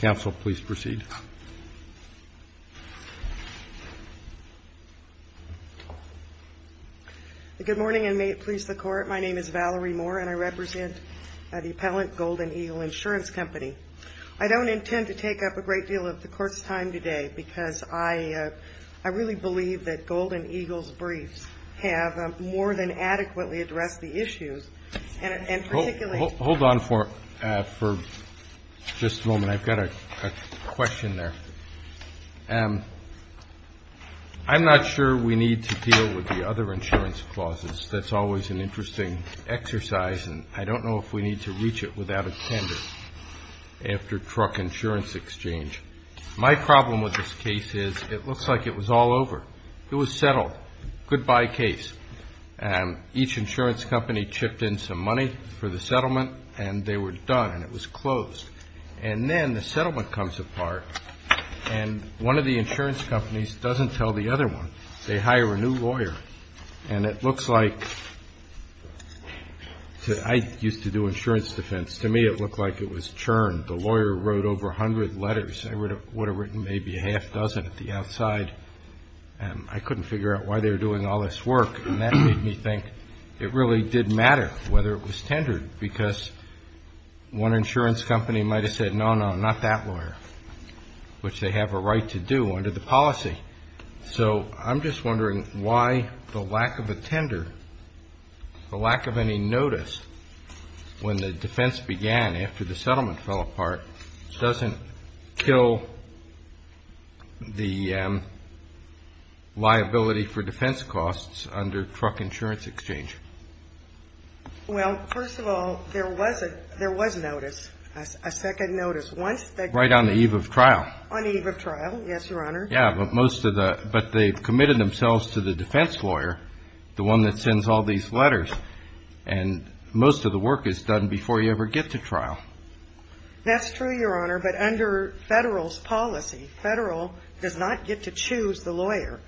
GOLDEN EAGLE INS. CO. I don't intend to take up a great deal of the Court's time today because I really believe that Golden Eagle's briefs have more than adequately addressed the issues, and particularly... CHIEF JUSTICE ROBERTS CHIEF JUSTICE ROBERTS I'm sorry. CHIEF JUSTICE ROBERTS I'm sorry. I've got a question there. I'm not sure we need to deal with the other insurance clauses. That's always an interesting exercise, and I don't know if we need to reach it without a tender after truck insurance exchange. My problem with this case is it looks like it was all over. It was settled. Goodbye case. Each insurance company chipped in some money for the settlement, and they were done, and it was closed. And then the settlement comes apart, and one of the insurance companies doesn't tell the other one. They hire a new lawyer, and it looks like I used to do insurance defense. To me, it looked like it was churned. The lawyer wrote over 100 letters. I would have written maybe a half dozen at the outside, and I couldn't figure out why they were doing all this work, and that made me think it really did matter whether it was tendered because one insurance company might have said, no, no, not that lawyer, which they have a right to do under the policy. So I'm just wondering why the lack of a tender, the lack of any notice when the defense began after the settlement fell apart, doesn't kill the liability for defense costs under truck insurance exchange. Well, first of all, there was a notice, a second notice. Right on the eve of trial. On the eve of trial, yes, Your Honor. Yeah, but most of the – but they've committed themselves to the defense lawyer, the one that sends all these letters, and most of the work is done before you ever get to trial. That's true, Your Honor, but under Federal's policy, Federal does not get to choose the lawyer,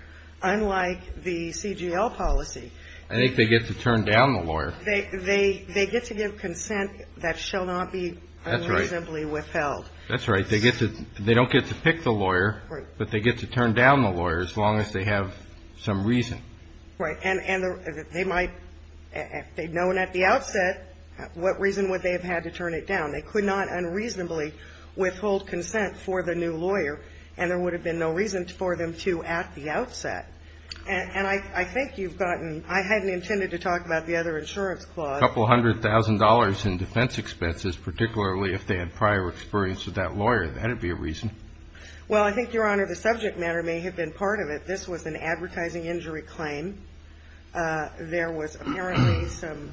unlike the CGL policy. I think they get to turn down the lawyer. They get to give consent that shall not be unreasonably withheld. That's right. They don't get to pick the lawyer, but they get to turn down the lawyer as long as they have some reason. Right. And they might – if they'd known at the outset, what reason would they have had to turn it down? They could not unreasonably withhold consent for the new lawyer, and there would have been no reason for them to at the outset. And I think you've gotten – I hadn't intended to talk about the other insurance clause. A couple hundred thousand dollars in defense expenses, particularly if they had prior experience with that lawyer. That'd be a reason. Well, I think, Your Honor, the subject matter may have been part of it. This was an advertising injury claim. There was apparently some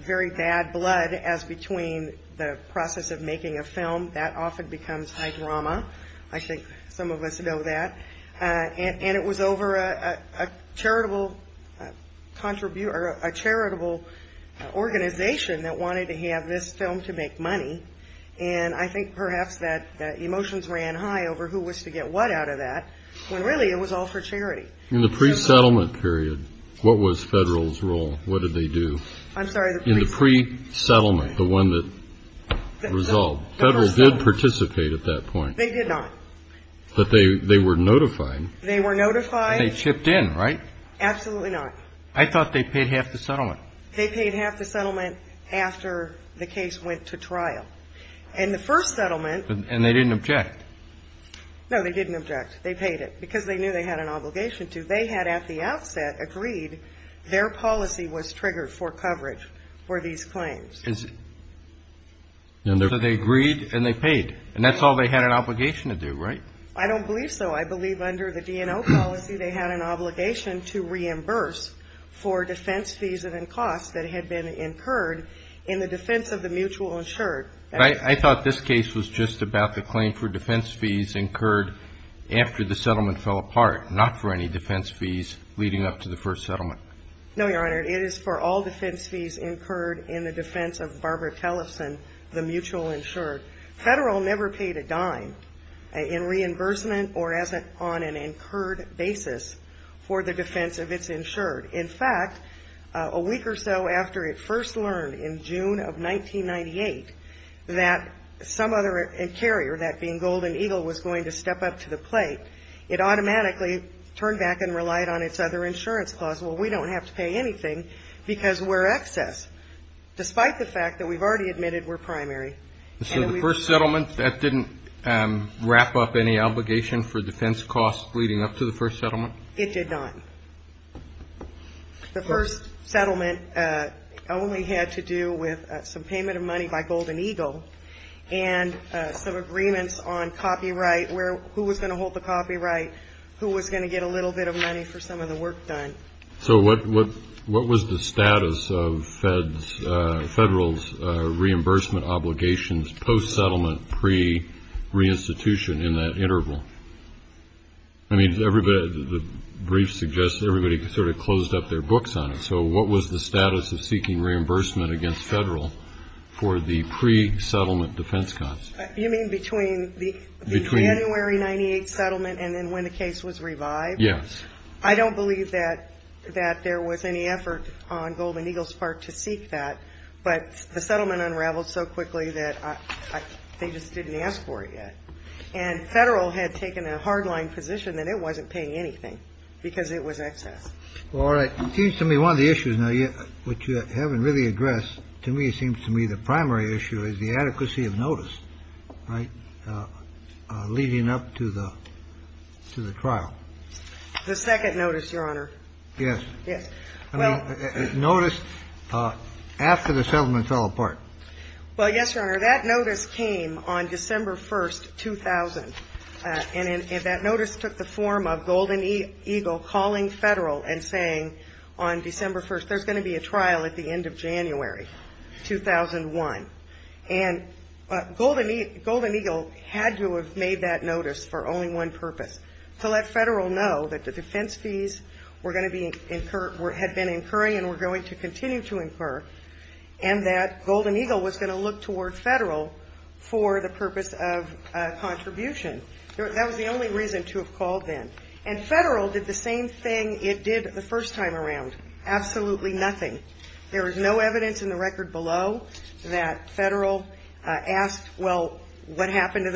very bad blood as between the process of making a film. That often becomes high drama. I think some of us know that. And it was over a charitable organization that wanted to have this film to make money. And I think perhaps that emotions ran high over who was to get what out of that, when really it was all for charity. In the pre-settlement period, what was Federal's role? What did they do? I'm sorry. In the pre-settlement, the one that resolved, Federal did participate at that point. They did not. But they were notified. They were notified. And they chipped in, right? Absolutely not. I thought they paid half the settlement. They paid half the settlement after the case went to trial. And the first settlement And they didn't object. No, they didn't object. They paid it because they knew they had an obligation to. They had at the outset agreed their policy was triggered for coverage for these claims. So they agreed and they paid. And that's all they had an obligation to do, right? I don't believe so. I believe under the DNO policy, they had an obligation to reimburse for defense fees and costs that had been incurred in the defense of the mutual insured. I thought this case was just about the claim for defense fees incurred after the settlement fell apart, not for any defense fees leading up to the first settlement. No, Your Honor. It is for all defense fees incurred in the defense of Barbara Tellefson, the mutual insured. Federal never paid a dime in reimbursement or on an incurred basis for the defense of its insured. In fact, a week or so after it first learned in June of 1998 that some other carrier, that being Golden Eagle, was going to step up to the plate, it automatically turned back and relied on its other insurance clause. Well, we don't have to pay anything because we're excess, despite the fact that we've already admitted we're primary. So the first settlement, that didn't wrap up any obligation for defense costs leading up to the first settlement? It did not. The first settlement only had to do with some payment of money by Golden Eagle and some agreements on copyright, who was going to hold the copyright, who was going to get a little bit of money for some of the work done. So what was the status of Federal's reimbursement obligations post-settlement, pre-reinstitution in that interval? I mean, the brief suggests everybody sort of closed up their books on it. So what was the status of seeking reimbursement against Federal for the pre-settlement defense costs? You mean between the January 98 settlement and then when the case was revived? Yes. I don't believe that there was any effort on Golden Eagle's part to seek that. But the settlement unraveled so quickly that they just didn't ask for it yet. And Federal had taken a hard-line position that it wasn't paying anything because it was excess. All right. It seems to me one of the issues, which you haven't really addressed, to me, seems to me the primary issue is the adequacy of notice, right, leading up to the trial. The second notice, Your Honor. Yes. Yes. Well, notice after the settlement fell apart. Well, yes, Your Honor. That notice came on December 1st, 2000. And that notice took the form of Golden Eagle calling Federal and saying on December 1st, there's going to be a trial at the end of January, 2001. And Golden Eagle had to have made that notice for only one purpose, to let Federal know that the defense fees were going to be incurred, had been incurring and were going to continue to incur, and that Golden Eagle was going to look toward Federal for the purpose of contribution. That was the only reason to have called then. And Federal did the same thing it did the first time around, absolutely nothing. There was no evidence in the record below that Federal asked, well, what happened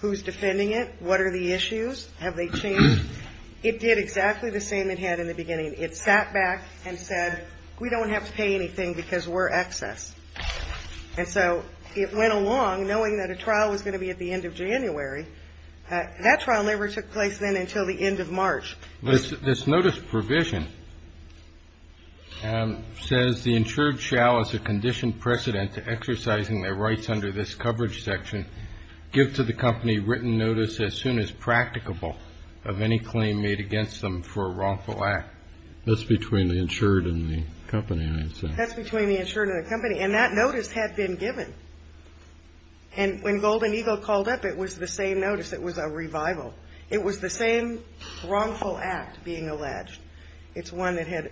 Who's defending it? What are the issues? Have they changed? It did exactly the same it had in the beginning. It sat back and said, we don't have to pay anything because we're excess. And so it went along, knowing that a trial was going to be at the end of January. That trial never took place then until the end of March. This notice provision says, The insured shall, as a conditioned precedent to exercising their rights under this claim made against them for a wrongful act. That's between the insured and the company, I'd say. That's between the insured and the company. And that notice had been given. And when Golden Eagle called up, it was the same notice. It was a revival. It was the same wrongful act being alleged. It's one that had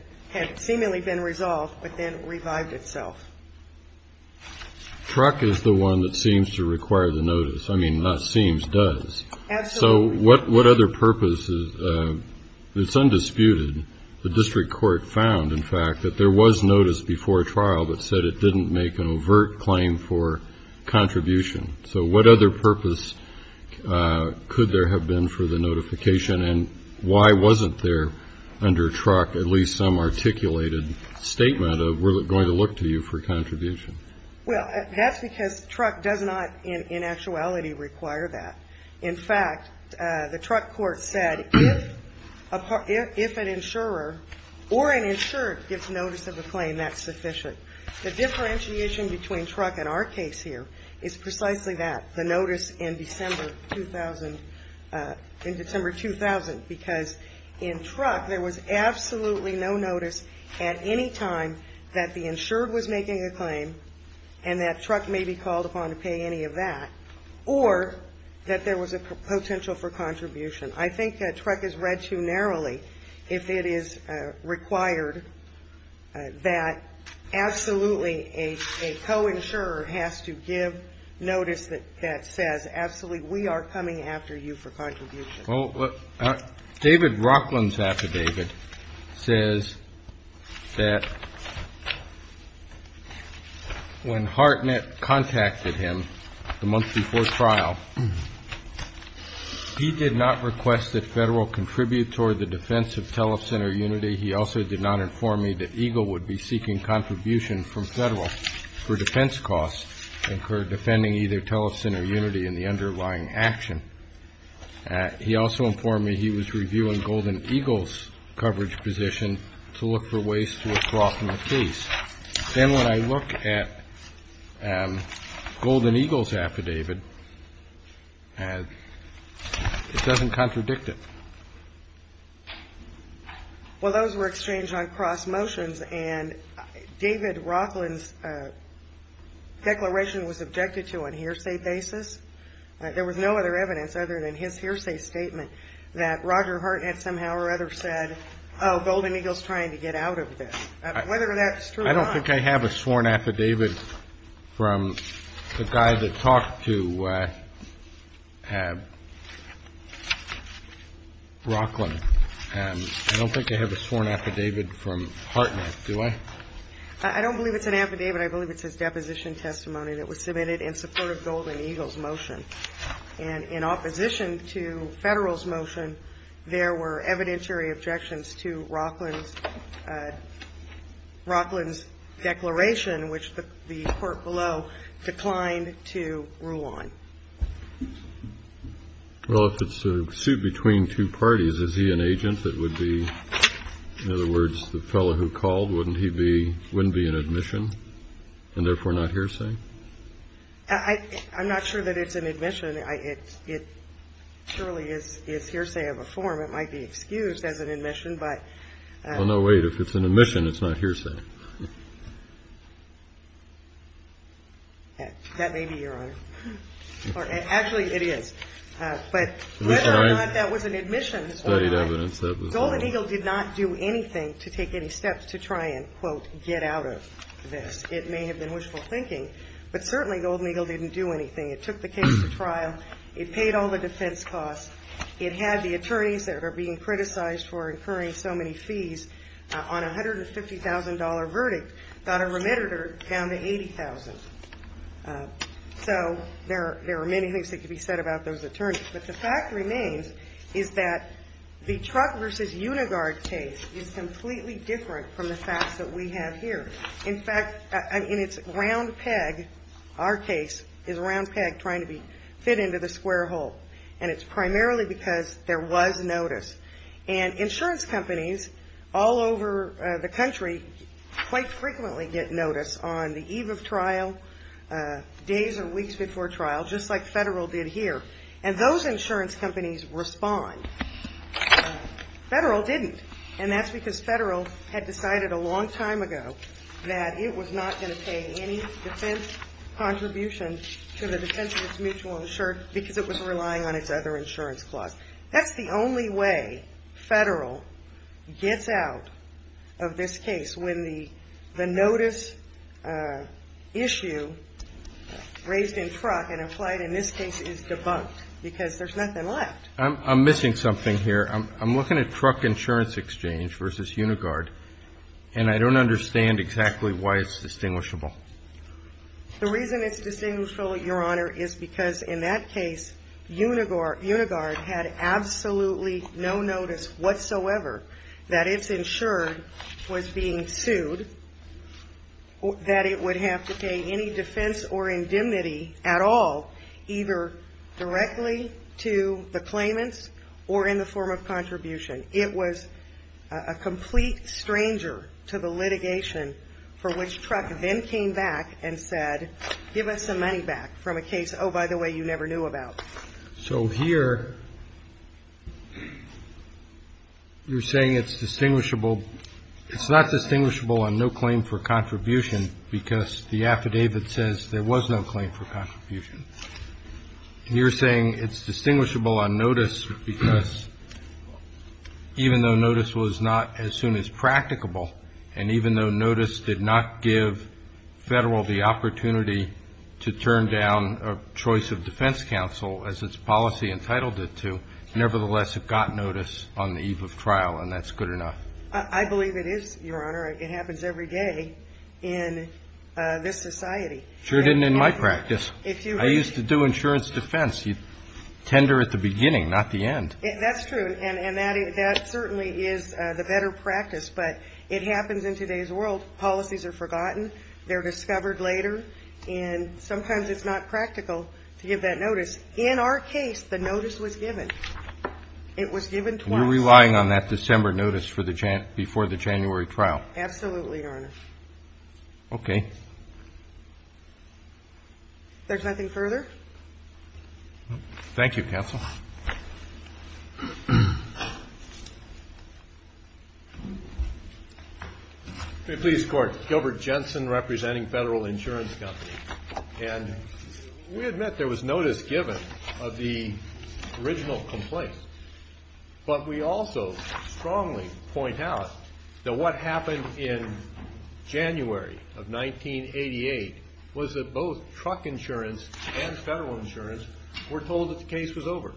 seemingly been resolved, but then revived itself. Truck is the one that seems to require the notice. I mean, not seems, does. Absolutely. So what other purposes, it's undisputed, the district court found, in fact, that there was notice before trial that said it didn't make an overt claim for contribution. So what other purpose could there have been for the notification, and why wasn't there under Truck at least some articulated statement of, we're going to look to you for contribution? Well, that's because Truck does not, in actuality, require that. In fact, the Truck court said if an insurer or an insured gets notice of a claim, that's sufficient. The differentiation between Truck and our case here is precisely that, the notice in December 2000, because in Truck, there was absolutely no notice at any time that the insured was making a claim and that Truck may be called upon to pay any of that, or that there was a potential for contribution. I think that Truck is read too narrowly if it is required that absolutely a co-insurer has to give notice that says absolutely, we are coming after you for contribution. Well, David Rockland's affidavit says that when Hartnett contacted him the month before trial, he did not request that Federal contribute toward the defense of telecenter unity. He also did not inform me that EGLE would be seeking contribution from Federal for defense costs incurred defending either telecenter unity in the underlying action. He also informed me he was reviewing Golden Eagle's coverage position to look for ways to withdraw from the case. Then when I look at Golden Eagle's affidavit, it doesn't contradict it. Well, those were exchanged on cross motions, and David Rockland's declaration was objected to on hearsay basis. There was no other evidence other than his hearsay statement that Roger Hartnett somehow or other said, oh, Golden Eagle's trying to get out of this. Whether that's true or not. I don't think I have a sworn affidavit from the guy that talked to Rockland. I don't think I have a sworn affidavit from Hartnett, do I? I don't believe it's an affidavit. I believe it's his deposition testimony that was submitted in support of Golden Eagle's motion. And in opposition to Federal's motion, there were evidentiary objections to Rockland's declaration, which the court below declined to rule on. Well, if it's a suit between two parties, is he an agent that would be, in other words, the fellow who called? Wouldn't he be an admission and therefore not hearsay? I'm not sure that it's an admission. It surely is hearsay of a form. It might be excused as an admission, but. Oh, no, wait. If it's an admission, it's not hearsay. That may be your honor. Actually, it is. But whether or not that was an admission or not, Golden Eagle did not do anything to take any steps to try and, quote, get out of this. It may have been wishful thinking, but certainly Golden Eagle didn't do anything. It took the case to trial. It paid all the defense costs. It had the attorneys that are being criticized for incurring so many fees on a $150,000 verdict got a remitter down to $80,000. So there are many things that could be said about those attorneys. But the fact remains is that the Truck v. Uniguard case is completely different from the facts that we have here. In fact, in its round peg, our case is a round peg trying to fit into the square hole. And it's primarily because there was notice. And insurance companies all over the country quite frequently get notice on the eve of trial, days or weeks before trial, just like Federal did here. And those insurance companies respond. Federal didn't. And that's because Federal had decided a long time ago that it was not going to pay any defense contribution to the defense of its mutual insurance because it was relying on its other insurance clause. That's the only way Federal gets out of this case when the notice issue raised in Truck and applied in this case is debunked, because there's nothing left. I'm missing something here. I'm looking at Truck Insurance Exchange v. Uniguard, and I don't understand exactly why it's distinguishable. The reason it's distinguishable, Your Honor, is because in that case, Uniguard had absolutely no notice whatsoever that it's insured was being sued, that it would have to pay any defense or indemnity at all, either directly to the claimants or in the form of contribution. It was a complete stranger to the litigation for which Truck then came back and said, give us some money back from a case, oh, by the way, you never knew about. So here you're saying it's distinguishable. It's not distinguishable on no claim for contribution because the affidavit says there was no claim for contribution. You're saying it's distinguishable on notice because even though notice was not as soon as practicable, and even though notice did not give Federal the opportunity to turn down a choice of defense counsel as its policy entitled it to, nevertheless, it got notice on the eve of trial, and that's good enough. I believe it is, Your Honor. It happens every day in this society. Sure didn't in my practice. I used to do insurance defense. You tender at the beginning, not the end. That's true, and that certainly is the better practice, but it happens in today's world. Policies are forgotten. They're discovered later, and sometimes it's not practical to give that notice. In our case, the notice was given. It was given twice. You're relying on that December notice before the January trial. Absolutely, Your Honor. Okay. If there's nothing further? Thank you, counsel. Please, Court. Gilbert Jensen representing Federal Insurance Company, and we admit there was notice given of the But we also strongly point out that what happened in January of 1988 was that both truck insurance and Federal insurance were told that the case was over.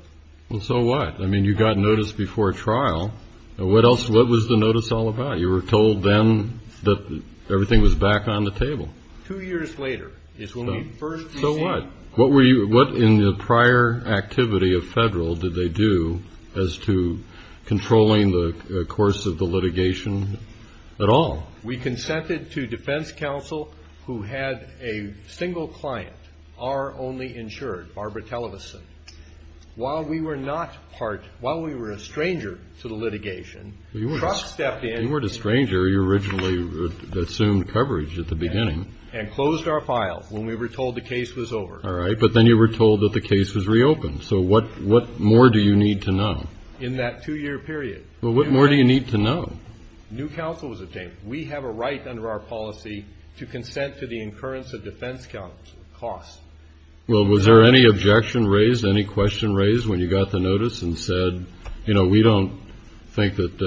Well, so what? I mean, you got notice before trial. What was the notice all about? You were told then that everything was back on the table. Two years later is when we first received it. So what? What in the prior activity of Federal did they do as to controlling the course of the litigation at all? We consented to defense counsel who had a single client, our only insured, Barbara Televeson. While we were a stranger to the litigation, truck stepped in. You weren't a stranger. You originally assumed coverage at the beginning. And closed our file when we were told the case was over. All right, but then you were told that the case was reopened. So what more do you need to know? In that two-year period. Well, what more do you need to know? New counsel was obtained. We have a right under our policy to consent to the incurrence of defense counsel's costs. Well, was there any objection raised, any question raised when you got the notice and said, you know, we don't think that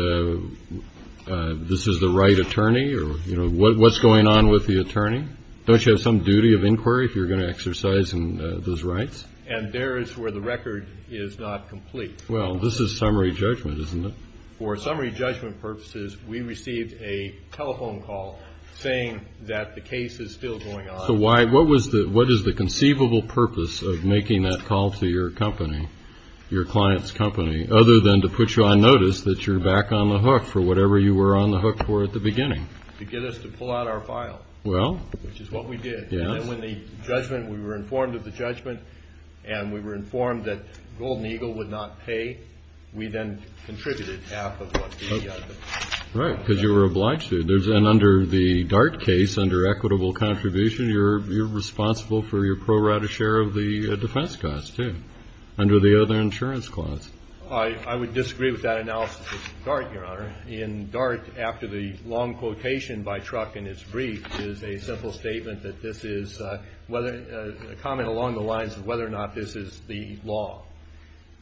this is the right attorney or, you know, what's going on with the attorney? Don't you have some duty of inquiry if you're going to exercise those rights? And there is where the record is not complete. Well, this is summary judgment, isn't it? For summary judgment purposes, we received a telephone call saying that the case is still going on. So what is the conceivable purpose of making that call to your company, your client's company, other than to put you on notice that you're back on the hook for whatever you were on the hook for at the beginning? To get us to pull out our file. Well. Which is what we did. Yes. And then when the judgment, we were informed of the judgment and we were informed that Golden Eagle would not pay, we then contributed half of what the other. Right, because you were obliged to. And under the Dart case, under equitable contribution, you're responsible for your pro rata share of the defense costs, too, under the other insurance clause. I would disagree with that analysis of Dart, Your Honor. In Dart, after the long quotation by Truck in its brief, is a simple statement that this is a comment along the lines of whether or not this is the law.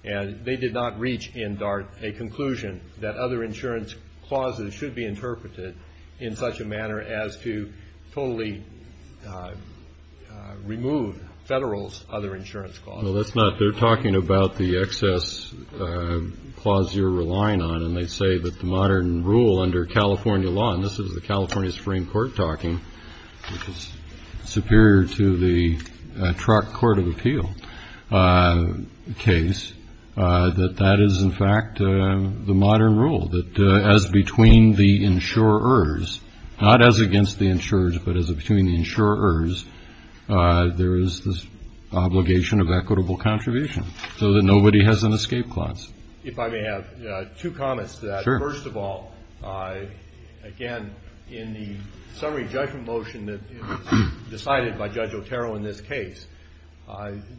And they did not reach in Dart a conclusion that other insurance clauses should be interpreted in such a manner as to totally remove Federal's other insurance clauses. No, that's not. They're talking about the excess clause you're relying on. And they say that the modern rule under California law, and this is the California Supreme Court talking, which is superior to the Truck Court of Appeal case, that that is, in fact, the modern rule, that as between the insurers, not as against the insurers, but as between the insurers, there is this obligation of equitable contribution so that nobody has an escape clause. If I may have two comments to that. Sure. First of all, again, in the summary judgment motion that was decided by Judge Otero in this case,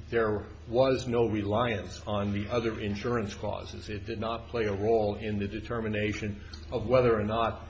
there was no reliance on the other insurance clauses. It did not play a role in the determination of whether or not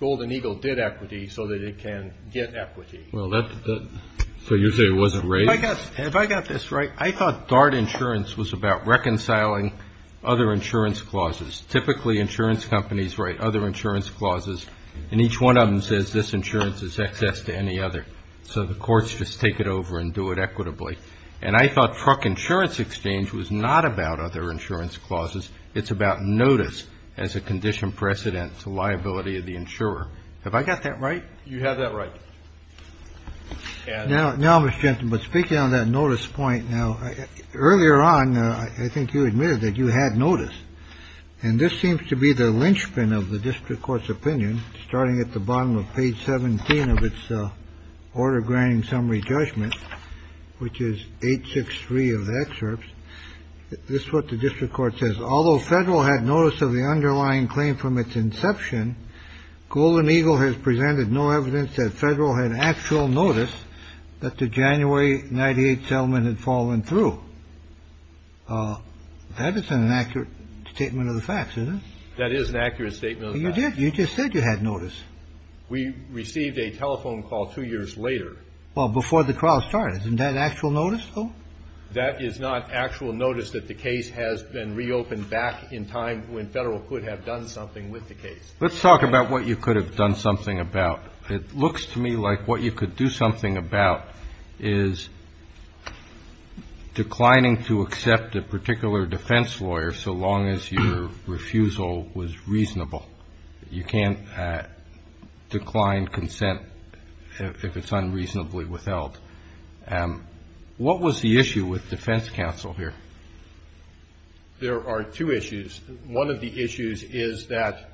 Golden Eagle did equity so that it can get equity. So you're saying it wasn't raised? If I got this right, I thought DART insurance was about reconciling other insurance clauses. Typically, insurance companies write other insurance clauses, and each one of them says this insurance is excess to any other. So the courts just take it over and do it equitably. And I thought Truck insurance exchange was not about other insurance clauses. It's about notice as a condition precedent to liability of the insurer. Have I got that right? You have that right. Now, now, Mr. Jensen, but speaking on that notice point now earlier on, I think you admitted that you had notice. And this seems to be the linchpin of the district court's opinion. Starting at the bottom of page 17 of its order granting summary judgment, which is 863 of the excerpts. This is what the district court says. Although federal had notice of the underlying claim from its inception, Golden Eagle has presented no evidence that federal had actual notice that the January 98 settlement had fallen through. That isn't an accurate statement of the facts, is it? That is an accurate statement. You did. You just said you had notice. We received a telephone call two years later. Well, before the trial started. Isn't that actual notice, though? That is not actual notice that the case has been reopened back in time when federal could have done something with the case. Let's talk about what you could have done something about. It looks to me like what you could do something about is declining to accept a particular defense lawyer so long as your refusal was reasonable. You can't decline consent if it's unreasonably withheld. What was the issue with defense counsel here? There are two issues. One of the issues is that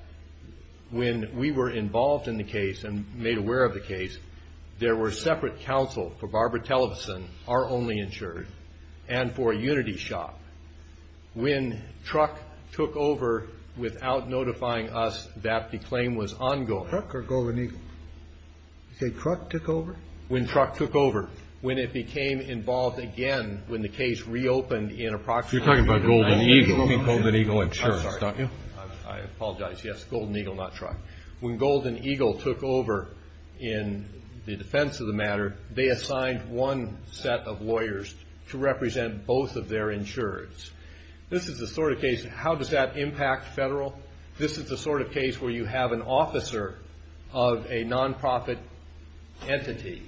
when we were involved in the case and made aware of the case, there were separate counsel for Barbara Televeson, our only insurer, and for a unity shop. When truck took over without notifying us that the claim was ongoing. Truck or Golden Eagle? You say truck took over? When truck took over. When it became involved again when the case reopened in approximately. You're talking about Golden Eagle Insurance, aren't you? I apologize. Yes, Golden Eagle, not truck. When Golden Eagle took over in the defense of the matter, they assigned one set of lawyers to represent both of their insurers. This is the sort of case. How does that impact federal? This is the sort of case where you have an officer of a nonprofit entity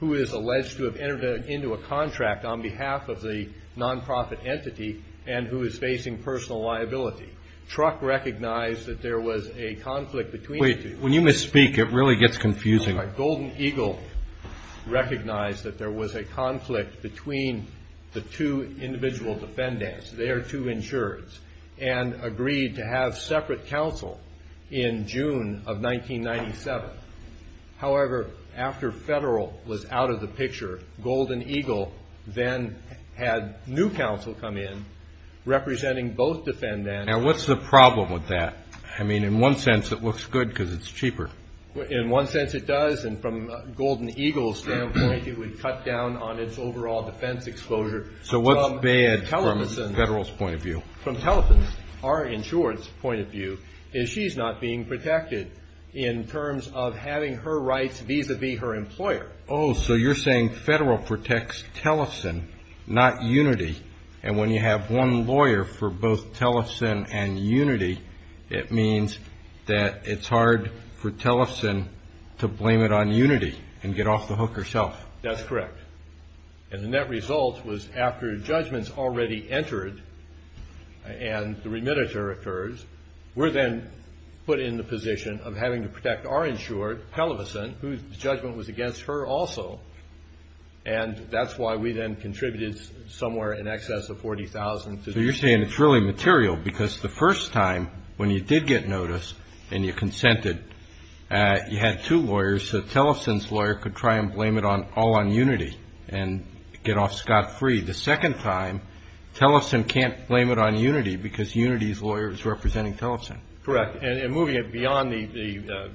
who is alleged to have entered into a contract on behalf of the nonprofit entity and who is facing personal liability. Truck recognized that there was a conflict between. Wait, when you misspeak, it really gets confusing. Golden Eagle recognized that there was a conflict between the two individual defendants, their two insurers, and agreed to have separate counsel in June of 1997. However, after federal was out of the picture, Golden Eagle then had new counsel come in representing both defendants. Now, what's the problem with that? I mean, in one sense, it looks good because it's cheaper. In one sense, it does, and from Golden Eagle's standpoint, it would cut down on its overall defense exposure. So what's bad from federal's point of view? What's bad from Tellefson, our insurer's point of view, is she's not being protected in terms of having her rights vis-à-vis her employer. Oh, so you're saying federal protects Tellefson, not Unity, and when you have one lawyer for both Tellefson and Unity, it means that it's hard for Tellefson to blame it on Unity and get off the hook herself. That's correct. And the net result was after judgments already entered and the remittiture occurs, we're then put in the position of having to protect our insurer, Tellefson, whose judgment was against her also, and that's why we then contributed somewhere in excess of $40,000. So you're saying it's really material because the first time when you did get notice and you consented, you had two lawyers, so Tellefson's lawyer could try and blame it all on Unity and get off scot-free. The second time, Tellefson can't blame it on Unity because Unity's lawyer is representing Tellefson. Correct, and moving it beyond the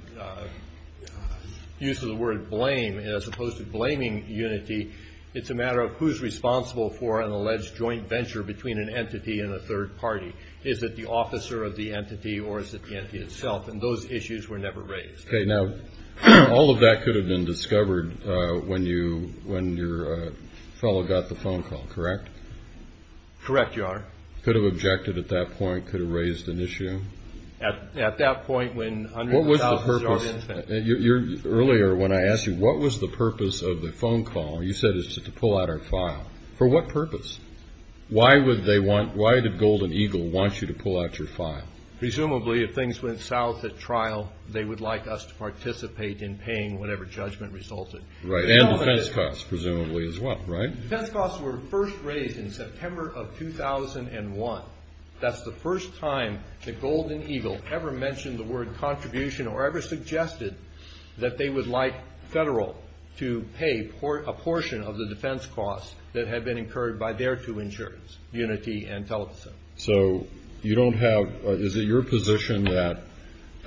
use of the word blame as opposed to blaming Unity, it's a matter of who's responsible for an alleged joint venture between an entity and a third party. Is it the officer of the entity or is it the entity itself? And those issues were never raised. Okay, now all of that could have been discovered when your fellow got the phone call, correct? Correct, Your Honor. Could have objected at that point, could have raised an issue? At that point when hundreds of thousands of our infants... Earlier when I asked you what was the purpose of the phone call, you said it's just to pull out our file. For what purpose? Why would they want, why did Golden Eagle want you to pull out your file? Presumably if things went south at trial, they would like us to participate in paying whatever judgment resulted. Right, and defense costs presumably as well, right? Defense costs were first raised in September of 2001. That's the first time that Golden Eagle ever mentioned the word contribution or ever suggested that they would like Federal to pay a portion of the defense costs that had been incurred by their two insurance, Unity and Televisa. So you don't have, is it your position that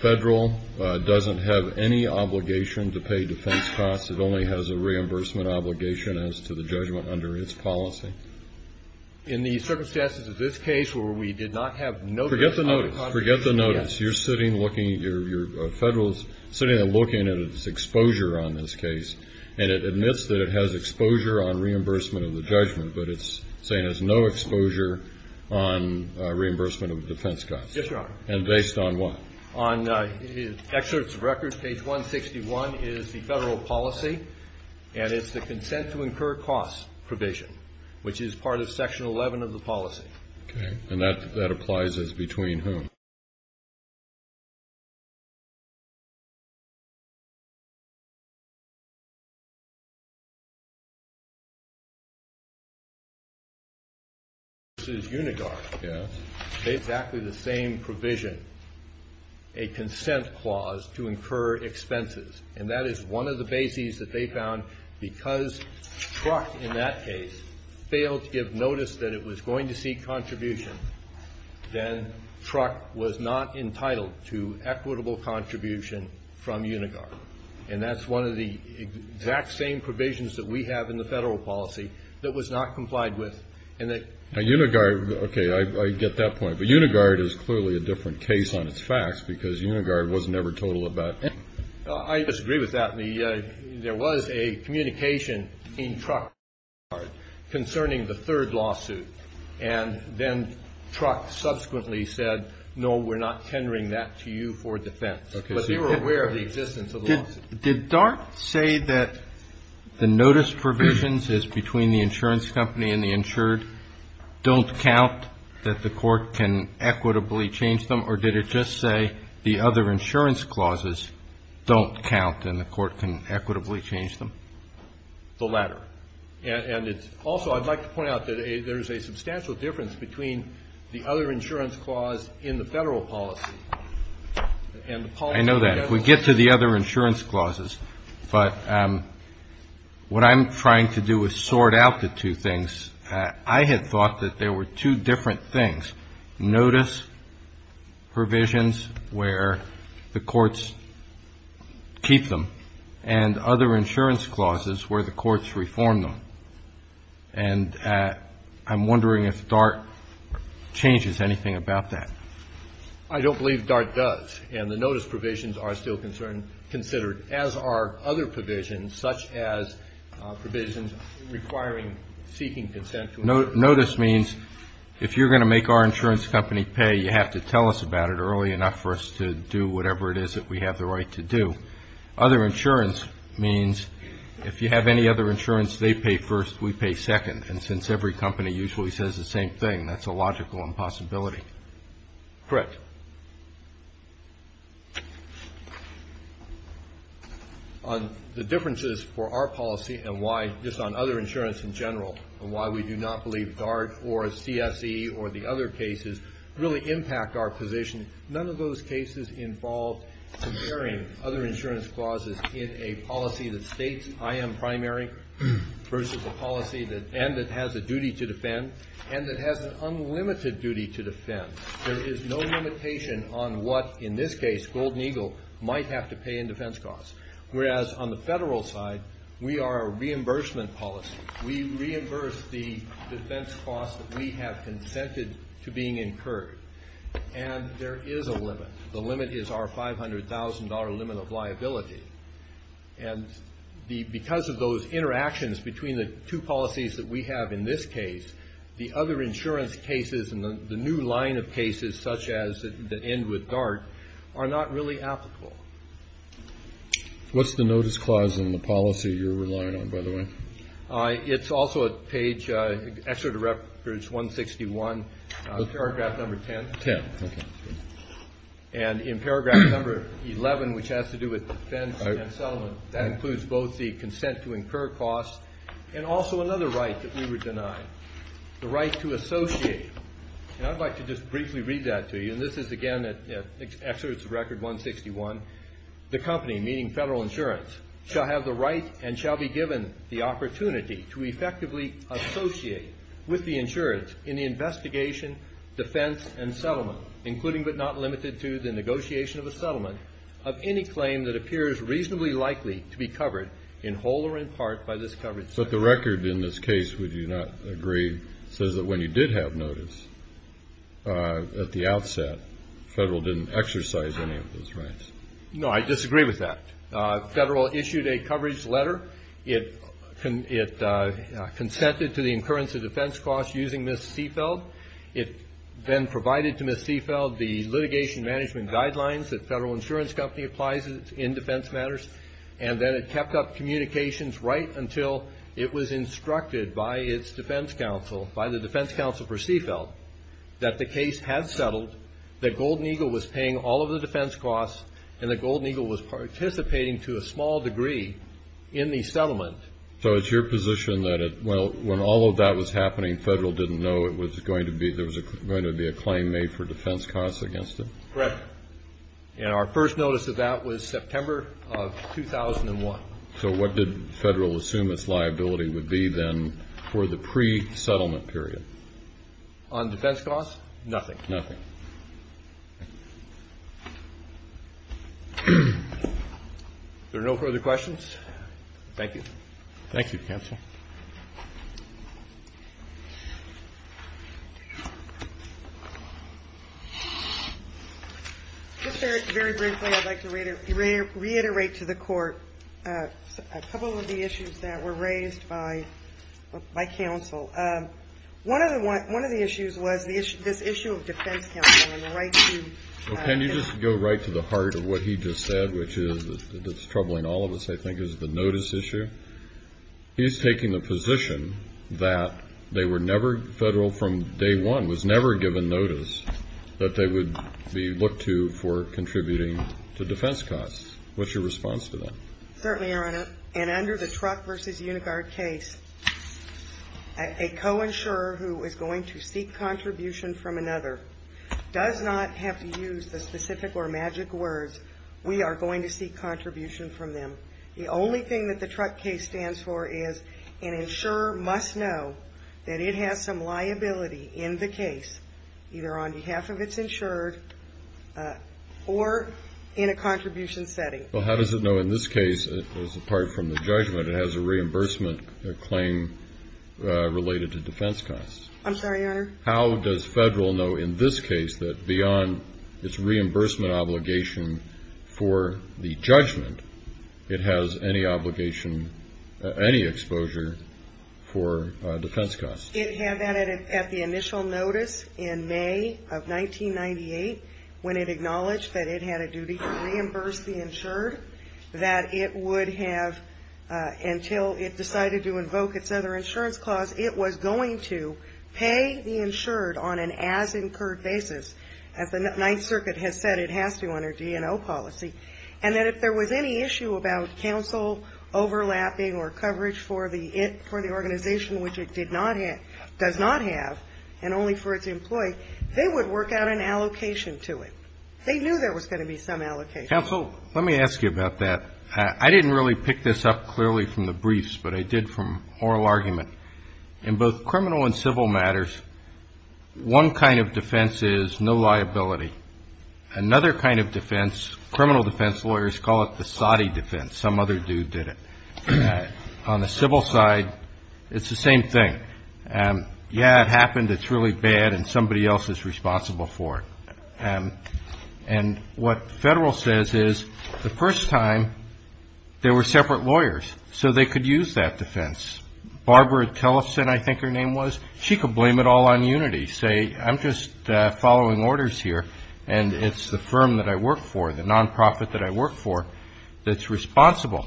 Federal doesn't have any obligation to pay defense costs? It only has a reimbursement obligation as to the judgment under its policy? In the circumstances of this case where we did not have notice... Forget the notice. Forget the notice. You're sitting looking, your Federal is sitting there looking at its exposure on this case and it admits that it has exposure on reimbursement of the judgment, but it's saying it has no exposure on reimbursement of defense costs. Yes, Your Honor. And based on what? On excerpts of records, page 161 is the Federal policy and it's the consent to incur costs probation, which is part of section 11 of the policy. Okay, and that applies as between whom? Yes. Exactly the same provision, a consent clause to incur expenses, and that is one of the bases that they found because Truck, in that case, failed to give notice that it was going to seek contribution, then Truck was not entitled to equitable contribution from Unigar, the exact same provisions that we have in the Federal policy that was not complied with. Unigar, okay, I get that point. But Unigar is clearly a different case on its facts because Unigar was never told about. I disagree with that. There was a communication in Truck concerning the third lawsuit, and then Truck subsequently said, no, we're not tendering that to you for defense. But they were aware of the existence of the lawsuit. And did Dart say that the notice provisions is between the insurance company and the insured don't count, that the Court can equitably change them, or did it just say the other insurance clauses don't count and the Court can equitably change them? The latter. And it's also, I'd like to point out that there is a substantial difference between the other insurance clause in the Federal policy and the policy in the Federal policy. I know that. If we get to the other insurance clauses, but what I'm trying to do is sort out the two things. I had thought that there were two different things, notice provisions where the courts keep them and other insurance clauses where the courts reform them. And I'm wondering if Dart changes anything about that. I don't believe Dart does. And the notice provisions are still considered, as are other provisions, such as provisions requiring seeking consent. Notice means if you're going to make our insurance company pay, you have to tell us about it early enough for us to do whatever it is that we have the right to do. Other insurance means if you have any other insurance, they pay first, we pay second. And since every company usually says the same thing, that's a logical impossibility. Correct. The differences for our policy and why, just on other insurance in general, and why we do not believe Dart or CSE or the other cases really impact our position, none of those cases involve comparing other insurance clauses in a policy that states I am primary versus a policy that has a duty to defend and that has an unlimited duty to defend. There is no limitation on what, in this case, Golden Eagle might have to pay in defense costs. Whereas on the federal side, we are a reimbursement policy. We reimburse the defense costs that we have consented to being incurred. And there is a limit. The limit is our $500,000 limit of liability. And because of those interactions between the two policies that we have in this case, the other insurance cases and the new line of cases, such as the end with Dart, are not really applicable. What's the notice clause in the policy you're relying on, by the way? It's also at page 161, paragraph number 10. 10, okay. And in paragraph number 11, which has to do with defense and settlement, that includes both the consent to incur costs and also another right that we were denied, the right to associate. And I'd like to just briefly read that to you. And this is, again, at excerpts of Record 161. The company, meaning federal insurance, shall have the right and shall be given the opportunity to effectively associate with the insurance in the investigation, defense, and settlement, including but not limited to the negotiation of a settlement, of any claim that appears reasonably likely to be covered in whole or in part by this coverage. But the record in this case, would you not agree, says that when you did have notice at the outset, federal didn't exercise any of those rights. No, I disagree with that. Federal issued a coverage letter. It consented to the incurrence of defense costs using Ms. Seifeld. It then provided to Ms. Seifeld the litigation management guidelines that federal insurance company applies in defense matters. And then it kept up communications right until it was instructed by its defense counsel, by the defense counsel for Seifeld, that the case had settled, that Golden Eagle was paying all of the defense costs, and that Golden Eagle was participating to a small degree in the settlement. So it's your position that when all of that was happening, federal didn't know there was going to be a claim made for defense costs against it? Correct. And our first notice of that was September of 2001. So what did federal assume its liability would be then for the pre-settlement period? On defense costs, nothing. Nothing. Is there no further questions? Thank you. Thank you, counsel. Just very briefly, I'd like to reiterate to the Court a couple of the issues that were raised by counsel. One of the issues was this issue of defense counsel and the right to ---- Well, can you just go right to the heart of what he just said, which is what's troubling all of us, I think, is the notice issue? He's taking the position that they were never federal from day one, was never given notice that they would be looked to for contributing to defense costs. What's your response to that? Certainly, Your Honor. And under the Truck v. Unigard case, a co-insurer who is going to seek contribution from another does not have to use the specific or magic words, we are going to seek contribution from them. The only thing that the Truck case stands for is an insurer must know that it has some liability in the case, either on behalf of its insured or in a contribution setting. Well, how does it know in this case, as apart from the judgment, it has a reimbursement claim related to defense costs? I'm sorry, Your Honor? How does federal know in this case that beyond its reimbursement obligation for the judgment, it has any obligation, any exposure for defense costs? It had that at the initial notice in May of 1998, when it acknowledged that it had a duty to reimburse the insured, that it would have until it decided to invoke its other insurance clause, it was going to pay the insured on an as-incurred basis. As the Ninth Circuit has said, it has to under DNO policy. And that if there was any issue about counsel overlapping or coverage for the organization, which it did not have, does not have, and only for its employee, they would work out an allocation to it. They knew there was going to be some allocation. Counsel, let me ask you about that. I didn't really pick this up clearly from the briefs, but I did from oral argument. In both criminal and civil matters, one kind of defense is no liability. Another kind of defense, criminal defense lawyers call it the soddy defense. Some other dude did it. On the civil side, it's the same thing. Yeah, it happened, it's really bad, and somebody else is responsible for it. And what the Federal says is the first time there were separate lawyers, so they could use that defense. Barbara Tellison, I think her name was, she could blame it all on unity, say I'm just following orders here and it's the firm that I work for, the nonprofit that I work for that's responsible.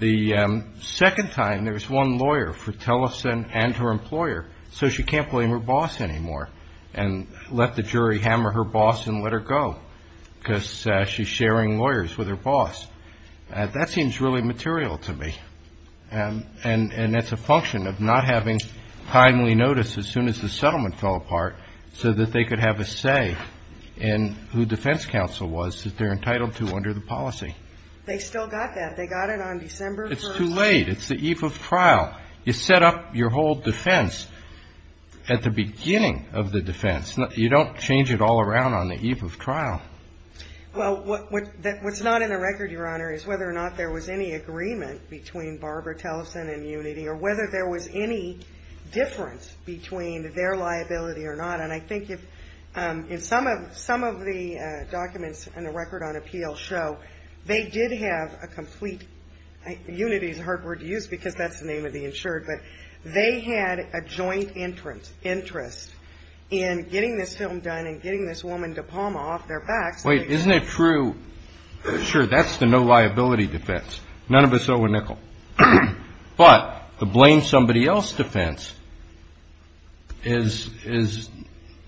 The second time there was one lawyer for Tellison and her employer, so she can't blame her boss anymore and let the jury hammer her boss and let her go, because she's sharing lawyers with her boss. That seems really material to me, and that's a function of not having timely notice as soon as the settlement fell apart so that they could have a say in who defense counsel was that they're entitled to under the policy. They still got that. They got it on December 1st. It's too late. It's the eve of trial. You set up your whole defense at the beginning of the defense. You don't change it all around on the eve of trial. Well, what's not in the record, Your Honor, is whether or not there was any agreement between Barbara Tellison and unity or whether there was any difference between their liability or not. And I think if some of the documents in the record on appeal show they did have a complete, unity is a hard word to use because that's the name of the insured, but they had a joint interest in getting this film done and getting this woman, DePalma, off their backs. Wait, isn't it true? Sure, that's the no liability defense. None of us owe a nickel. But the blame somebody else defense is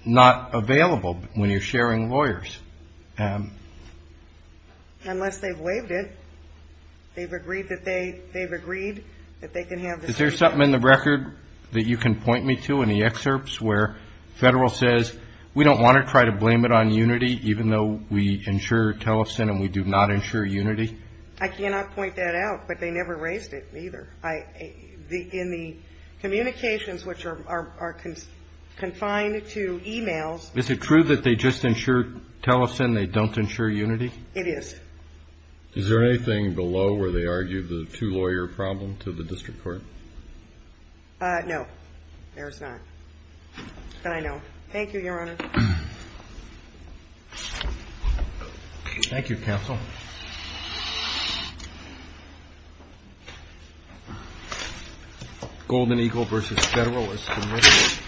not available when you're sharing lawyers. Unless they've waived it. They've agreed that they can have this film. Is there something in the record that you can point me to, any excerpts, where federal says we don't want to try to blame it on unity even though we insure Tellison and we do not insure unity? I cannot point that out, but they never raised it either. In the communications, which are confined to e-mails. Is it true that they just insure Tellison, they don't insure unity? It is. Is there anything below where they argue the two lawyer problem to the district court? No, there's not. But I know. Thank you, Your Honor. Thank you, counsel. Thank you, counsel. Golden Eagle v. Federalists.